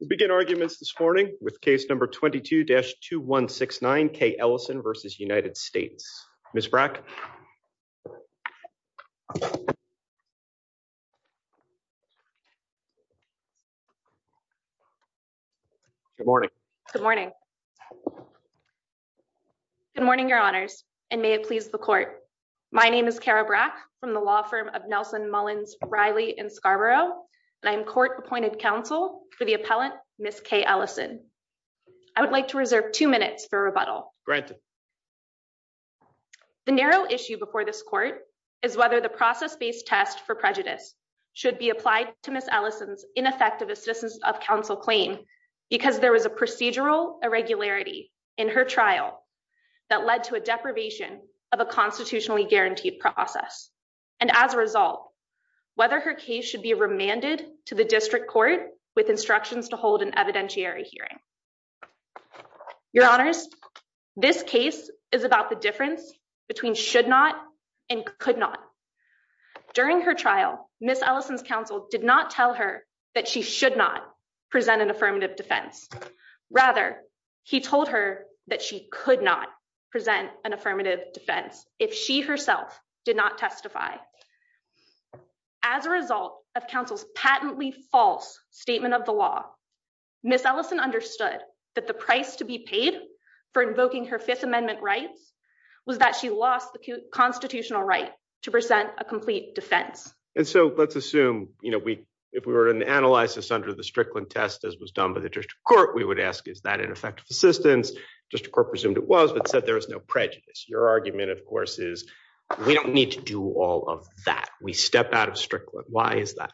We begin arguments this morning with case number 22-2169, Kay Ellison v. United States. Ms. Brack. Good morning. Good morning. Good morning, your honors, and may it please the court. My name is Kara Brack from the law firm Nelson Mullins Riley in Scarborough and I'm court appointed counsel for the appellant, Ms. Kay Ellison. I would like to reserve two minutes for rebuttal. The narrow issue before this court is whether the process-based test for prejudice should be applied to Ms. Ellison's ineffective assistance of counsel claim because there was a procedural irregularity in her trial that led to a deprivation of a constitutionally guaranteed process. And as a result, whether her case should be remanded to the district court with instructions to hold an evidentiary hearing. Your honors, this case is about the difference between should not and could not. During her trial, Ms. Ellison's counsel did not tell her that she should not present an affirmative defense. Rather, he told her that she could not present an affirmative defense if she herself did not testify. As a result of counsel's patently false statement of the law, Ms. Ellison understood that the price to be paid for invoking her Fifth Amendment rights was that she lost the constitutional right to present a complete defense. And so let's assume, you know, if we were to analyze this under the Strickland test as was done by the district court, we would ask is that ineffective assistance? District court presumed it was but said there was no prejudice. Your argument, of course, is we don't need to do all of that. We step out of Strickland. Why is that?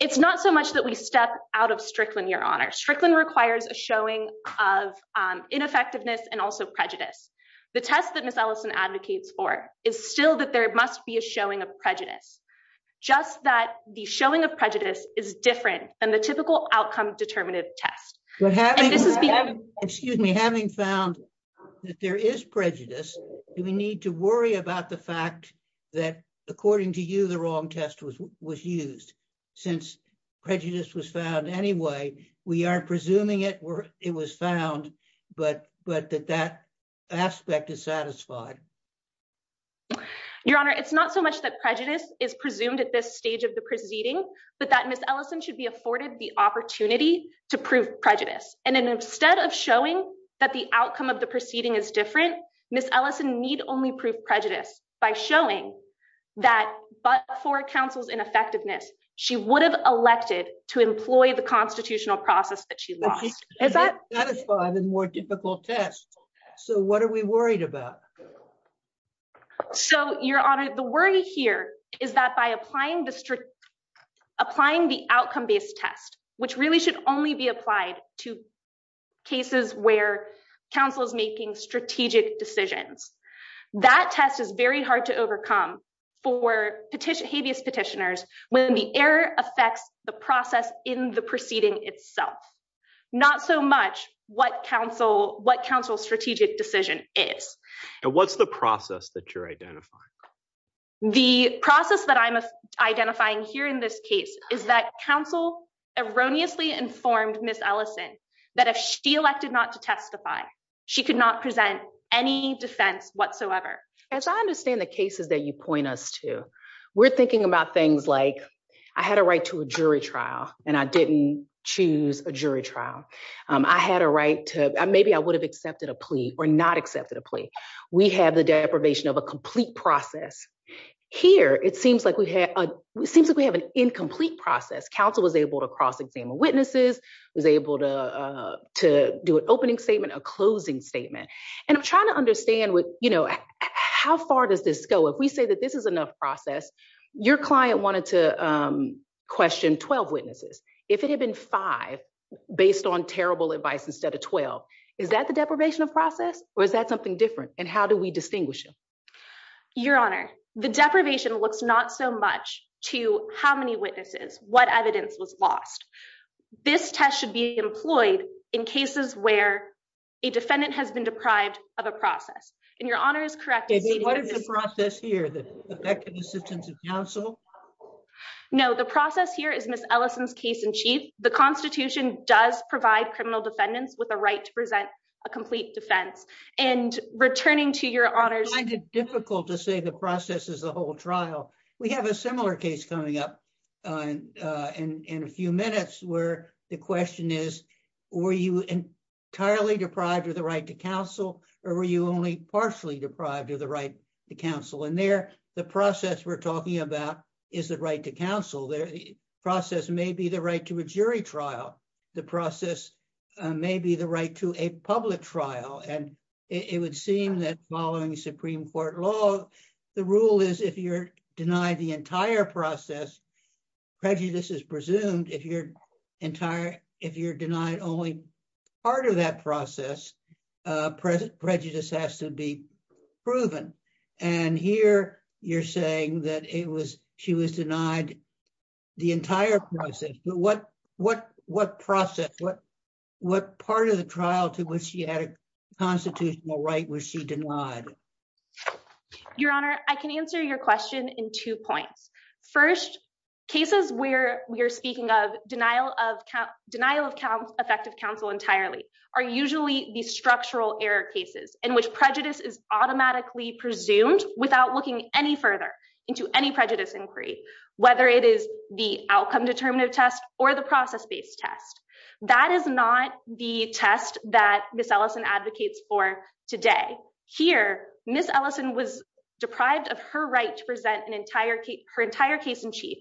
It's not so much that we step out of Strickland, your honor. Strickland requires a showing of ineffectiveness and also prejudice. The test that Ms. Ellison advocates for is still that there must be a showing of prejudice. Just that the showing of prejudice is different than the typical outcome determinative test. But having, excuse me, having found that there is prejudice, do we need to worry about the fact that according to you the wrong test was was used since prejudice was found anyway? We aren't presuming it were it was found, but but that that aspect is satisfied. Your honor, it's not so much that prejudice is presumed at this stage of the proceeding, but that Ms. Ellison should be afforded the opportunity to prove prejudice. And instead of showing that the outcome of the proceeding is different, Ms. Ellison need only prove prejudice by showing that but for counsel's ineffectiveness, she would have elected to employ the constitutional process that she lost. Is that? That is why the more difficult test. So what are we worried about? So your honor, the worry here is that by applying the strict, applying the outcome based test, which really should only be applied to cases where counsel is making strategic decisions, that test is very hard to overcome for petition habeas petitioners when the error affects the process in the proceeding itself. Not so much what counsel, what counsel strategic decision is. And what's the process that you're identifying? The process that I'm identifying here in this case is that counsel erroneously informed Ms. Ellison that if she elected not to testify, she could not present any defense whatsoever. As I understand the cases that you point us to, we're thinking about things like I had a right to a jury trial and I didn't choose a jury trial. I had a right to, maybe I would have accepted a plea or not accepted a plea. We have the deprivation of a complete process. Here, it seems like we have an incomplete process. Counsel was able to cross examine witnesses, was able to do an opening statement, a closing statement. And I'm trying to understand how far does this go? If we say that this is enough process, your client wanted to question 12 witnesses. If it had been five based on terrible advice instead of 12, is that the deprivation of process or is that something different? And how do we distinguish them? Your honor, the deprivation looks not so much to how many witnesses, what evidence was lost. This test should be employed in cases where a defendant has been deprived of a process and your honor is correct. What is the process here that effective assistance of counsel? No, the process here is Ms. Ellison's case in chief. The constitution does provide criminal defendants with a right to present a complete defense and returning to your honors. I find it difficult to say the process is the whole trial. We have a similar case coming up in a few minutes where the question is, were you entirely deprived of the right to counsel or were you only partially deprived of the right to counsel? And there the process we're talking about is the right to counsel. The process may be the right to a jury trial. The process may be the right to a public trial. And it would seem that following Supreme Court law, the rule is if you're denied the entire process, prejudice is presumed. If you're saying that it was, she was denied the entire process, but what, what, what process, what, what part of the trial to which she had a constitutional right was she denied? Your honor, I can answer your question in two points. First cases where we are speaking of denial of count, denial of count effective counsel entirely are usually the structural error cases in which prejudice is automatically presumed without looking any further into any prejudice inquiry, whether it is the outcome determinative test or the process-based test. That is not the test that Ms. Ellison advocates for today. Here, Ms. Ellison was deprived of her right to present her entire case in chief.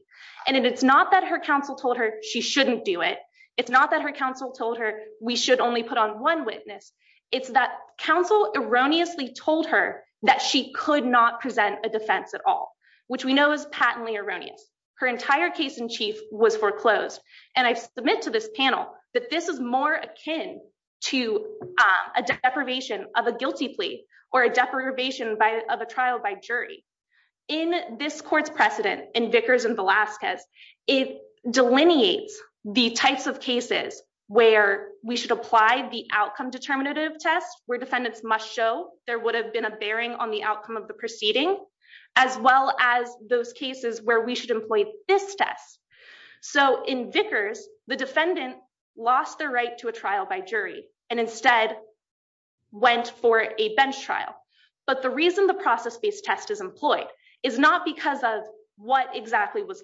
And it's not that her counsel told her she shouldn't do it. It's not her counsel told her we should only put on one witness. It's that counsel erroneously told her that she could not present a defense at all, which we know is patently erroneous. Her entire case in chief was foreclosed. And I submit to this panel that this is more akin to a deprivation of a guilty plea or a deprivation by of a trial by jury in this court's precedent in Vickers and where we should apply the outcome determinative test where defendants must show there would have been a bearing on the outcome of the proceeding, as well as those cases where we should employ this test. So in Vickers, the defendant lost the right to a trial by jury and instead went for a bench trial. But the reason the process-based test is employed is not because of what exactly was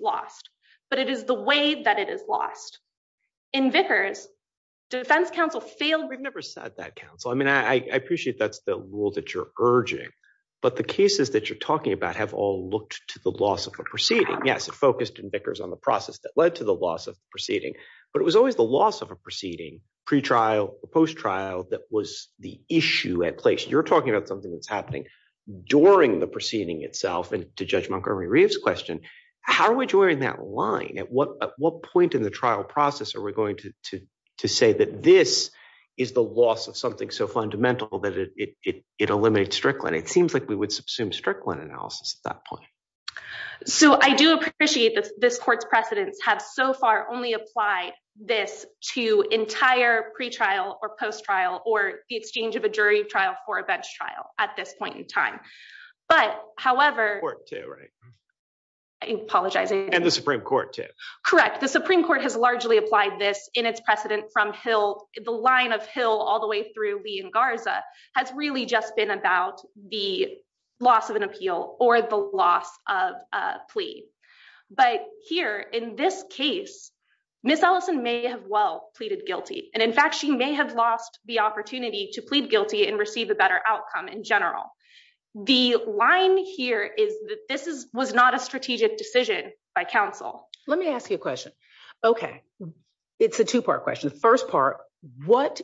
defense counsel failed. We've never said that, counsel. I mean, I appreciate that's the rule that you're urging, but the cases that you're talking about have all looked to the loss of a proceeding. Yes, it focused in Vickers on the process that led to the loss of the proceeding, but it was always the loss of a proceeding, pretrial, post-trial that was the issue at place. You're talking about something that's happening during the proceeding itself. And to Judge Montgomery Reeves' question, how are we drawing that line? At what point in the trial process are we going to say that this is the loss of something so fundamental that it eliminated Strickland? It seems like we would subsume Strickland analysis at that point. So I do appreciate that this court's precedents have so far only applied this to entire pretrial or post-trial or the exchange of a jury trial for a bench trial at this point in time. But however- Court too, right? I apologize. And the Supreme Court too. Correct. The Supreme Court has largely applied this in its precedent from the line of Hill all the way through Lee and Garza has really just been about the loss of an appeal or the loss of a plea. But here in this case, Ms. Ellison may have well pleaded guilty. And in fact, she may have lost the opportunity to plead guilty and receive a better outcome in general. The line here is that this was not a strategic decision by counsel. Let me ask you a question. Okay. It's a two-part question. First part, what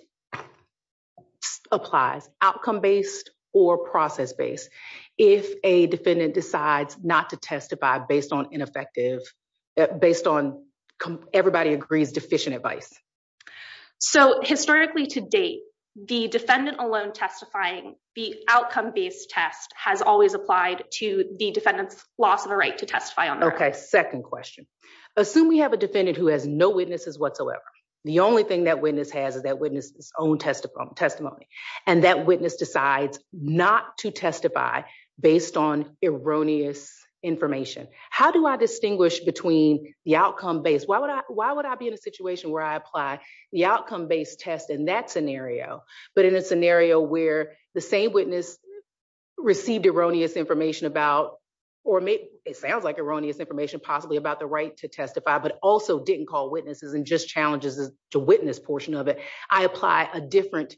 applies outcome-based or process-based if a defendant decides not to testify based on everybody agrees deficient advice? Historically to date, the defendant alone testifying the outcome-based test has always applied to the defendant's loss of a right to testify on that. Second question. Assume we have a defendant who has no witnesses whatsoever. The only thing that witness has is that witness's own testimony. And that witness decides not to testify based on erroneous information. How do I distinguish between the outcome-based? Why would I be in a situation where I apply the outcome-based test in that scenario, but in a scenario where the same witness received erroneous information about, or it sounds like erroneous information, possibly about the right to testify, but also didn't call witnesses and just challenges to witness portion of it. I apply a different,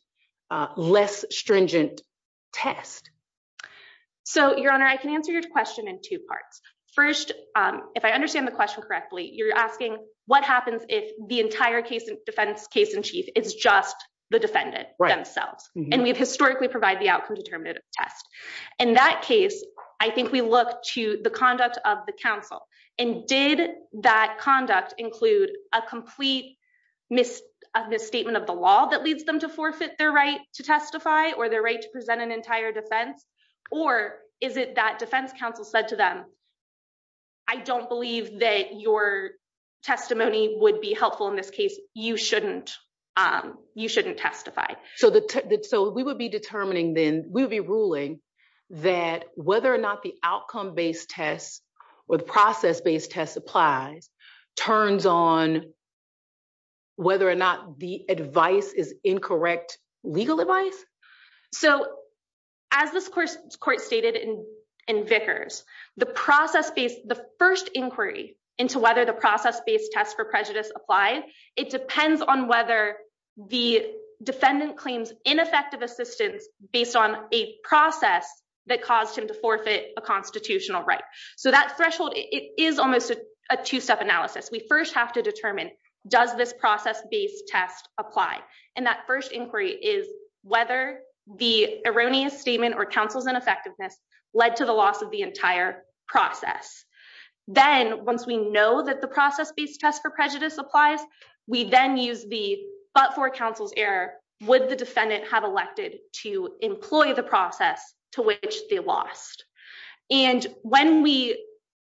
less stringent test. So Your Honor, I can answer your question in two parts. First, if I understand the question correctly, you're asking what happens if the entire case in defense, case in chief, it's just the defendant themselves. And we've historically provide the outcome-determinative test. In that case, I think we look to the conduct of the counsel and did that conduct include a complete misstatement of the law that leads them to forfeit their right to testify or their right to present an entire defense? Or is it that defense counsel said to them, I don't believe that your testimony would be helpful in this case. You shouldn't, you shouldn't testify. So we would be determining then, we would be ruling that whether or not the outcome-based test or the process-based test applies turns on whether or not the advice is incorrect legal advice. So as this court stated in Vickers, the process-based, the first inquiry into whether the process-based test for prejudice applied, it depends on whether the defendant claims ineffective assistance based on a process that caused him to forfeit a constitutional right. So that threshold, it is almost a two-step analysis. We first have to determine, does this process-based test apply? And that first inquiry is whether the erroneous statement or counsel's ineffectiveness led to the loss of the entire process. Then once we know that the process-based test for prejudice applies, we then use the, but for counsel's error, would the defendant have elected to employ the process to which they lost? And when we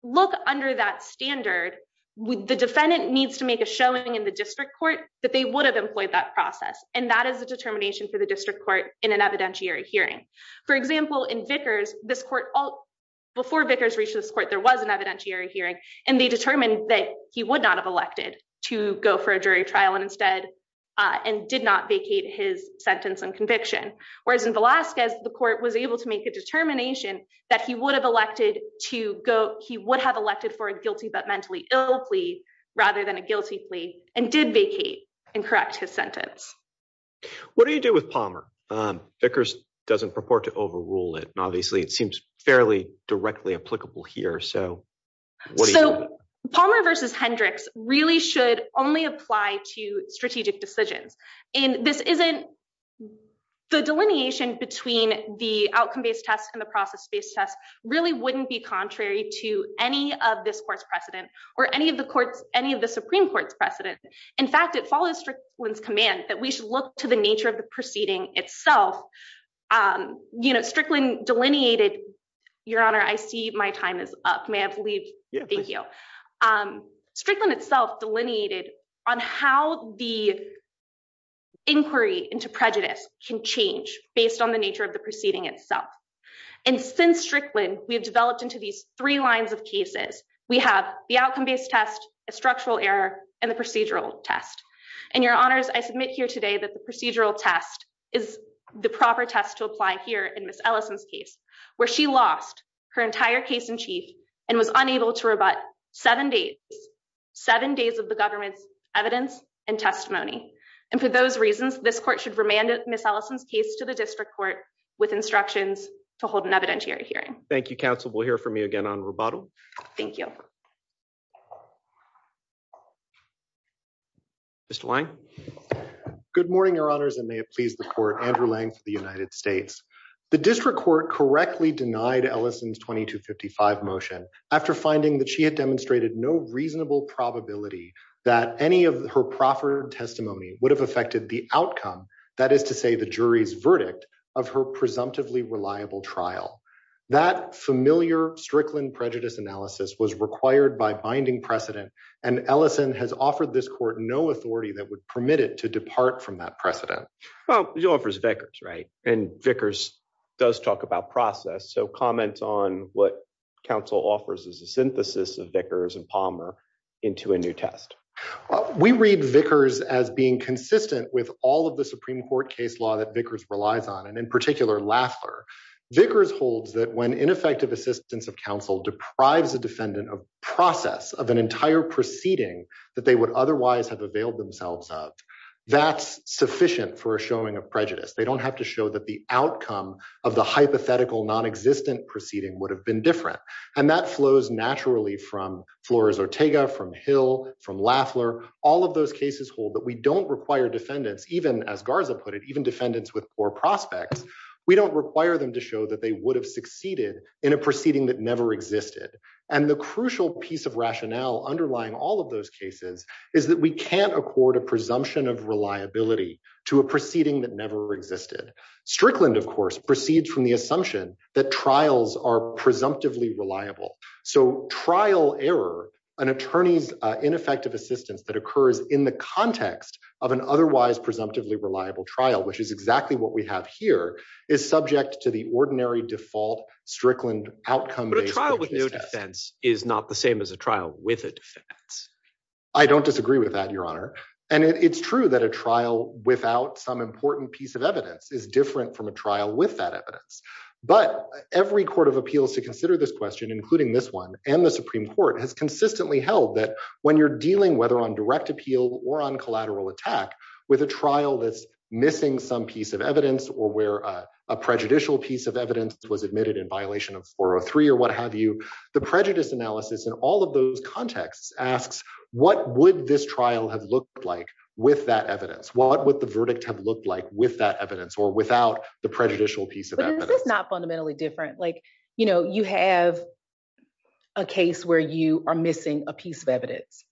look under that standard, the defendant needs to make a showing in the district court that they would have employed that process. And that is the determination for the district court in an evidentiary hearing. For example, in Vickers, this court, before Vickers reached this court, there was an evidentiary hearing and they determined that he would not have elected to go for a jury trial and instead, and did not vacate his sentence and conviction. Whereas in Velasquez, the court was able to make a determination that he would have elected to go, rather than a guilty plea, and did vacate and correct his sentence. What do you do with Palmer? Vickers doesn't purport to overrule it, and obviously it seems fairly directly applicable here. So what do you do with it? Palmer versus Hendricks really should only apply to strategic decisions. And this isn't, the delineation between the outcome-based test and the process-based test really wouldn't be of the Supreme Court's precedent. In fact, it follows Strickland's command that we should look to the nature of the proceeding itself. Strickland delineated, Your Honor, I see my time is up, may I have to leave? Yeah, please. Thank you. Strickland itself delineated on how the inquiry into prejudice can change based on the nature of the proceeding itself. And since Strickland, we've developed into these three cases. We have the outcome-based test, a structural error, and the procedural test. And Your Honors, I submit here today that the procedural test is the proper test to apply here in Ms. Ellison's case, where she lost her entire case in chief and was unable to rebut seven days, seven days of the government's evidence and testimony. And for those reasons, this court should remand Ms. Ellison's case to the district court with instructions to hold an evidentiary hearing. Thank you, counsel. We'll hear from you again on rebuttal. Thank you. Mr. Lange? Good morning, Your Honors, and may it please the court, Andrew Lange for the United States. The district court correctly denied Ellison's 2255 motion after finding that she had demonstrated no reasonable probability that any of her proffered testimony would have affected the outcome, that is to say the jury's verdict, of her presumptively reliable trial. That familiar Strickland prejudice analysis was required by binding precedent, and Ellison has offered this court no authority that would permit it to depart from that precedent. Well, she offers Vickers, right? And Vickers does talk about process, so comment on what counsel offers as a synthesis of Vickers and Palmer into a new test. We read Vickers as being consistent with all of the Supreme Court case law that Vickers relies on, and in particular Lafler. Vickers holds that when ineffective assistance of counsel deprives a defendant of process of an entire proceeding that they would otherwise have availed themselves of, that's sufficient for a showing of prejudice. They don't have to show that the outcome of the hypothetical non-existent proceeding would have been different. And that flows naturally from Flores-Ortega, from Hill, from Lafler. All of those cases hold that we don't require defendants, even as Garza put it, even defendants with poor prospects, we don't require them to show that they would have succeeded in a proceeding that never existed. And the crucial piece of rationale underlying all of those cases is that we can't accord a presumption of reliability to a proceeding that never existed. Strickland, of course, proceeds from the assumption that trials are presumptively reliable. So trial error, an attorney's ineffective assistance that occurs in the context of an otherwise presumptively reliable trial, which is exactly what we have here, is subject to the ordinary default Strickland outcome. But a trial with no defense is not the same as a trial with a defense. I don't disagree with that, Your Honor. And it's true that a trial without some important piece of But every court of appeals to consider this question, including this one and the Supreme Court, has consistently held that when you're dealing, whether on direct appeal or on collateral attack, with a trial that's missing some piece of evidence or where a prejudicial piece of evidence was admitted in violation of 403 or what have you, the prejudice analysis in all of those contexts asks, what would this trial have looked like with that evidence? What would the verdict have looked like with that evidence or without the prejudicial piece of evidence? But is this not fundamentally different? You have a case where you are missing a piece of evidence.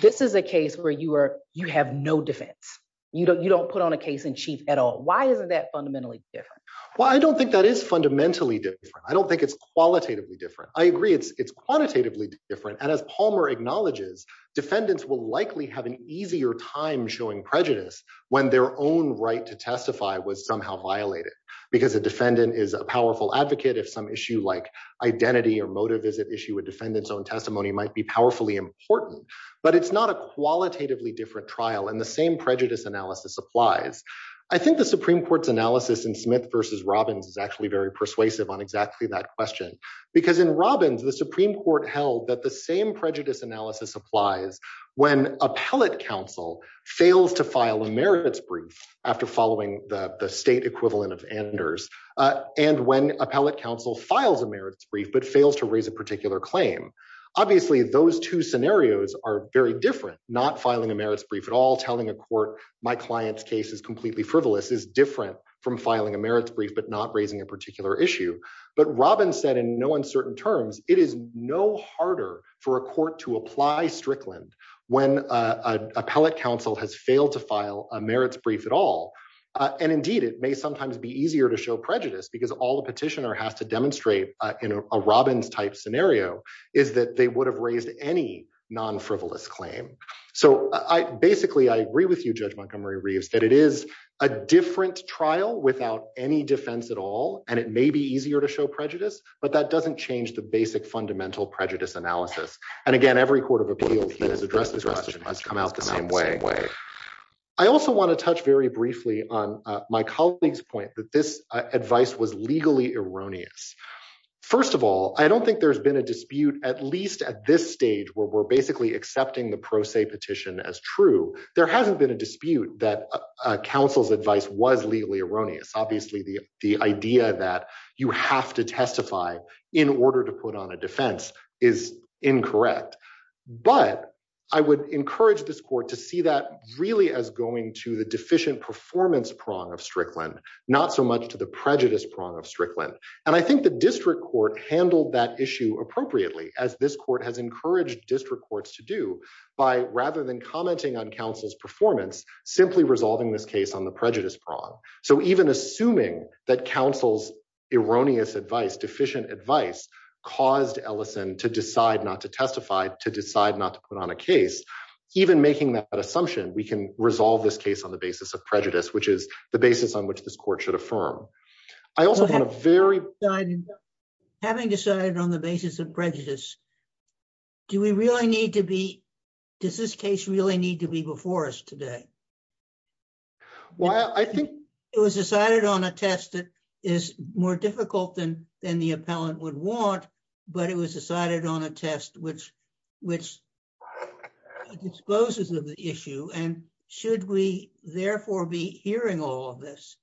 This is a case where you have no defense. You don't put on a case in chief at all. Why isn't that fundamentally different? Well, I don't think that is fundamentally different. I don't think it's qualitatively different. I agree it's quantitatively different. And as Palmer acknowledges, defendants will likely have an easier time showing prejudice when their own right to testify was somehow violated. Because a defendant is a powerful advocate, if some issue like identity or motive is at issue, a defendant's own testimony might be powerfully important. But it's not a qualitatively different trial. And the same prejudice analysis applies. I think the Supreme Court's analysis in Smith versus Robbins is actually very persuasive on exactly that question. Because in Robbins, the Supreme Court held that the same prejudice analysis applies when appellate counsel fails to file a merits brief after following the state equivalent of Anders and when appellate counsel files a merits brief but fails to raise a particular claim. Obviously, those two scenarios are very different. Not filing a merits brief at all, telling a court my client's case is completely frivolous is different from filing a merits brief but not raising a particular issue. But Robbins said in no uncertain terms, it is no harder for a court to apply Strickland when appellate counsel has failed to file a merits brief at all. And indeed, it may sometimes be easier to show prejudice because all the petitioner has to demonstrate in a Robbins-type scenario is that they would have raised any non-frivolous claim. So basically, I agree with you, Judge Montgomery-Reeves, that it is a different trial without any defense at all. And it may be easier to show prejudice, but that doesn't change the basic fundamental prejudice analysis. And again, every court of appeal that has addressed this question has come out the same way. I also want to touch very briefly on my colleague's point that this advice was legally erroneous. First of all, I don't think there's been a dispute at least at this stage where we're basically accepting the pro se petition as true. There hasn't been a dispute that counsel's advice was legally erroneous. Obviously, the in order to put on a defense is incorrect. But I would encourage this court to see that really as going to the deficient performance prong of Strickland, not so much to the prejudice prong of Strickland. And I think the district court handled that issue appropriately as this court has encouraged district courts to do by rather than commenting on counsel's performance, simply resolving this case on the prejudice prong. So even assuming that counsel's erroneous advice deficient advice caused Ellison to decide not to testify to decide not to put on a case, even making that assumption, we can resolve this case on the basis of prejudice, which is the basis on which this court should affirm. I also want to very... Having decided on the basis of prejudice, do we really need to be, does this case really need to be before us today? Well, I think... It was decided on a test that is more difficult than the appellant would want, but it was decided on a test which, which exposes of the issue. And should we therefore be hearing all of this?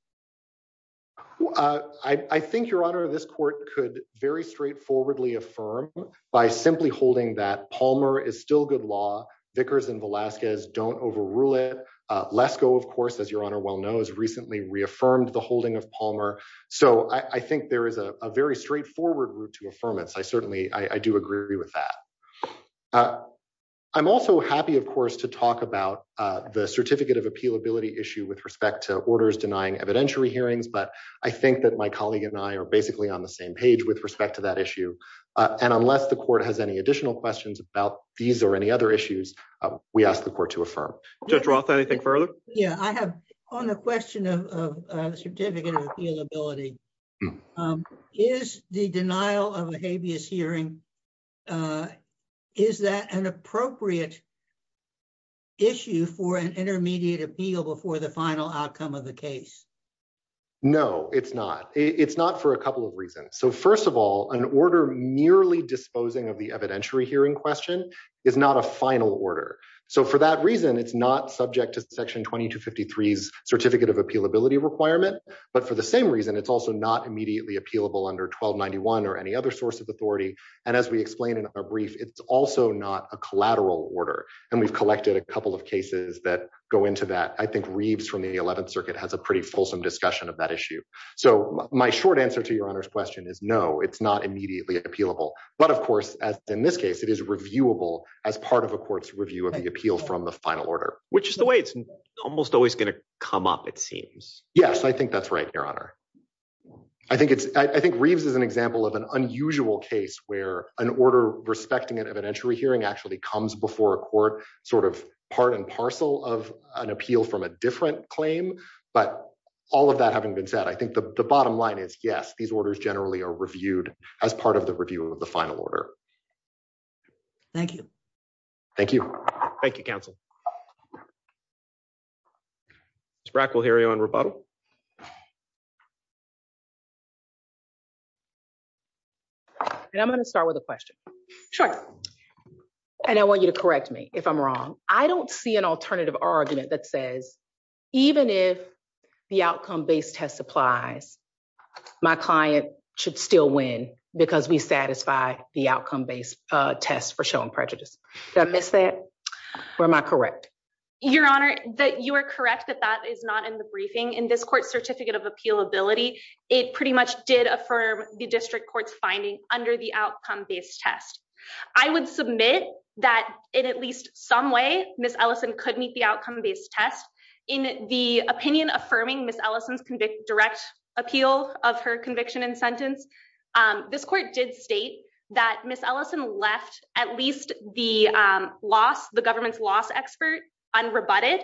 I think Your Honor, this court could very straightforwardly affirm by simply holding that Palmer is still good law, Vickers and Velasquez don't overrule it. Lesko, of course, as Your Honor well knows, recently reaffirmed the holding of Palmer. So I think there is a very straightforward route to affirmance. I certainly, I do agree with that. I'm also happy, of course, to talk about the certificate of appealability issue with respect to orders denying evidentiary hearings. But I think that my colleague and I are basically on the same page with respect to that issue. And unless the court has any additional questions about these or any other issues, we ask the court to affirm. Judge Roth, anything further? Yeah, I have on the question of certificate of appealability, is the denial of a habeas hearing, is that an appropriate issue for an intermediate appeal before the final outcome of the case? No, it's not. It's not for a couple of reasons. So first of all, an order merely disposing of the evidentiary hearing question is not a final order. So for that reason, it's not subject to Section 2253's certificate of appealability requirement. But for the same reason, it's also not immediately appealable under 1291 or any other source of authority. And as we explained in a brief, it's also not a collateral order. And we've collected a couple of cases that go into that. I think Reeves from the 11th Circuit has a pretty fulsome discussion of that issue. So my short answer to Your Honor's question is no, it's not immediately appealable. But of course, as in this case, it is reviewable as part of a court's review of the appeal from the final order. Which is the way it's almost always going to come up, it seems. Yes, I think that's right, Your Honor. I think Reeves is an example of an unusual case where an order respecting an evidentiary hearing actually comes before a court, sort of part and parcel of an appeal from a different claim. But all of that having been said, I think the bottom line is yes, these orders generally are reviewed as part of the review of the final order. Thank you. Thank you. Thank you, counsel. Ms. Brack, we'll hear you on rebuttal. And I'm going to start with a question. Sure. And I want you to correct me if I'm wrong. I don't see an alternative argument that says, even if the outcome-based test applies, my client should still win because we satisfy the outcome-based test for showing prejudice. Did I miss that? Or am I correct? Your Honor, you are correct that that is not in the briefing. In this court's certificate of appealability, it pretty much did affirm the district court's finding under the outcome-based test. I would submit that in at least some way, Ms. Ellison could meet the outcome-based test. In the opinion affirming Ms. Ellison's direct appeal of her conviction and sentence, this court did state that Ms. Ellison left at least the loss, the government's loss expert unrebutted,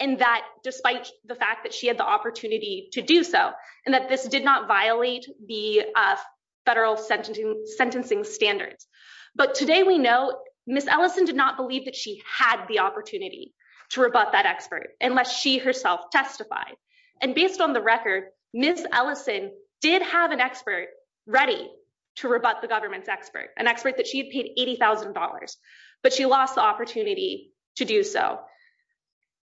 and that despite the fact that she had the opportunity to do so, and that this did not violate the federal sentencing standards. But today we know Ms. Ellison did not believe that she had the opportunity to rebut that expert unless she herself testified. And based on the record, Ms. Ellison did have an expert ready to rebut the government's expert, an expert that she had paid $80,000, but she lost the opportunity to do so.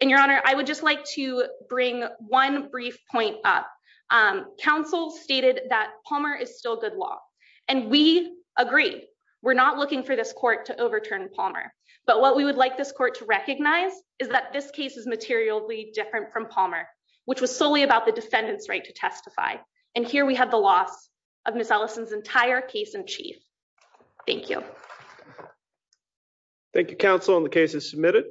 And Your Honor, I would just like to one brief point up. Counsel stated that Palmer is still good law, and we agree. We're not looking for this court to overturn Palmer. But what we would like this court to recognize is that this case is materially different from Palmer, which was solely about the defendant's right to testify. And here we have the loss of Ms. Ellison's entire case in chief. Thank you. Thank you, counsel. And the case is submitted.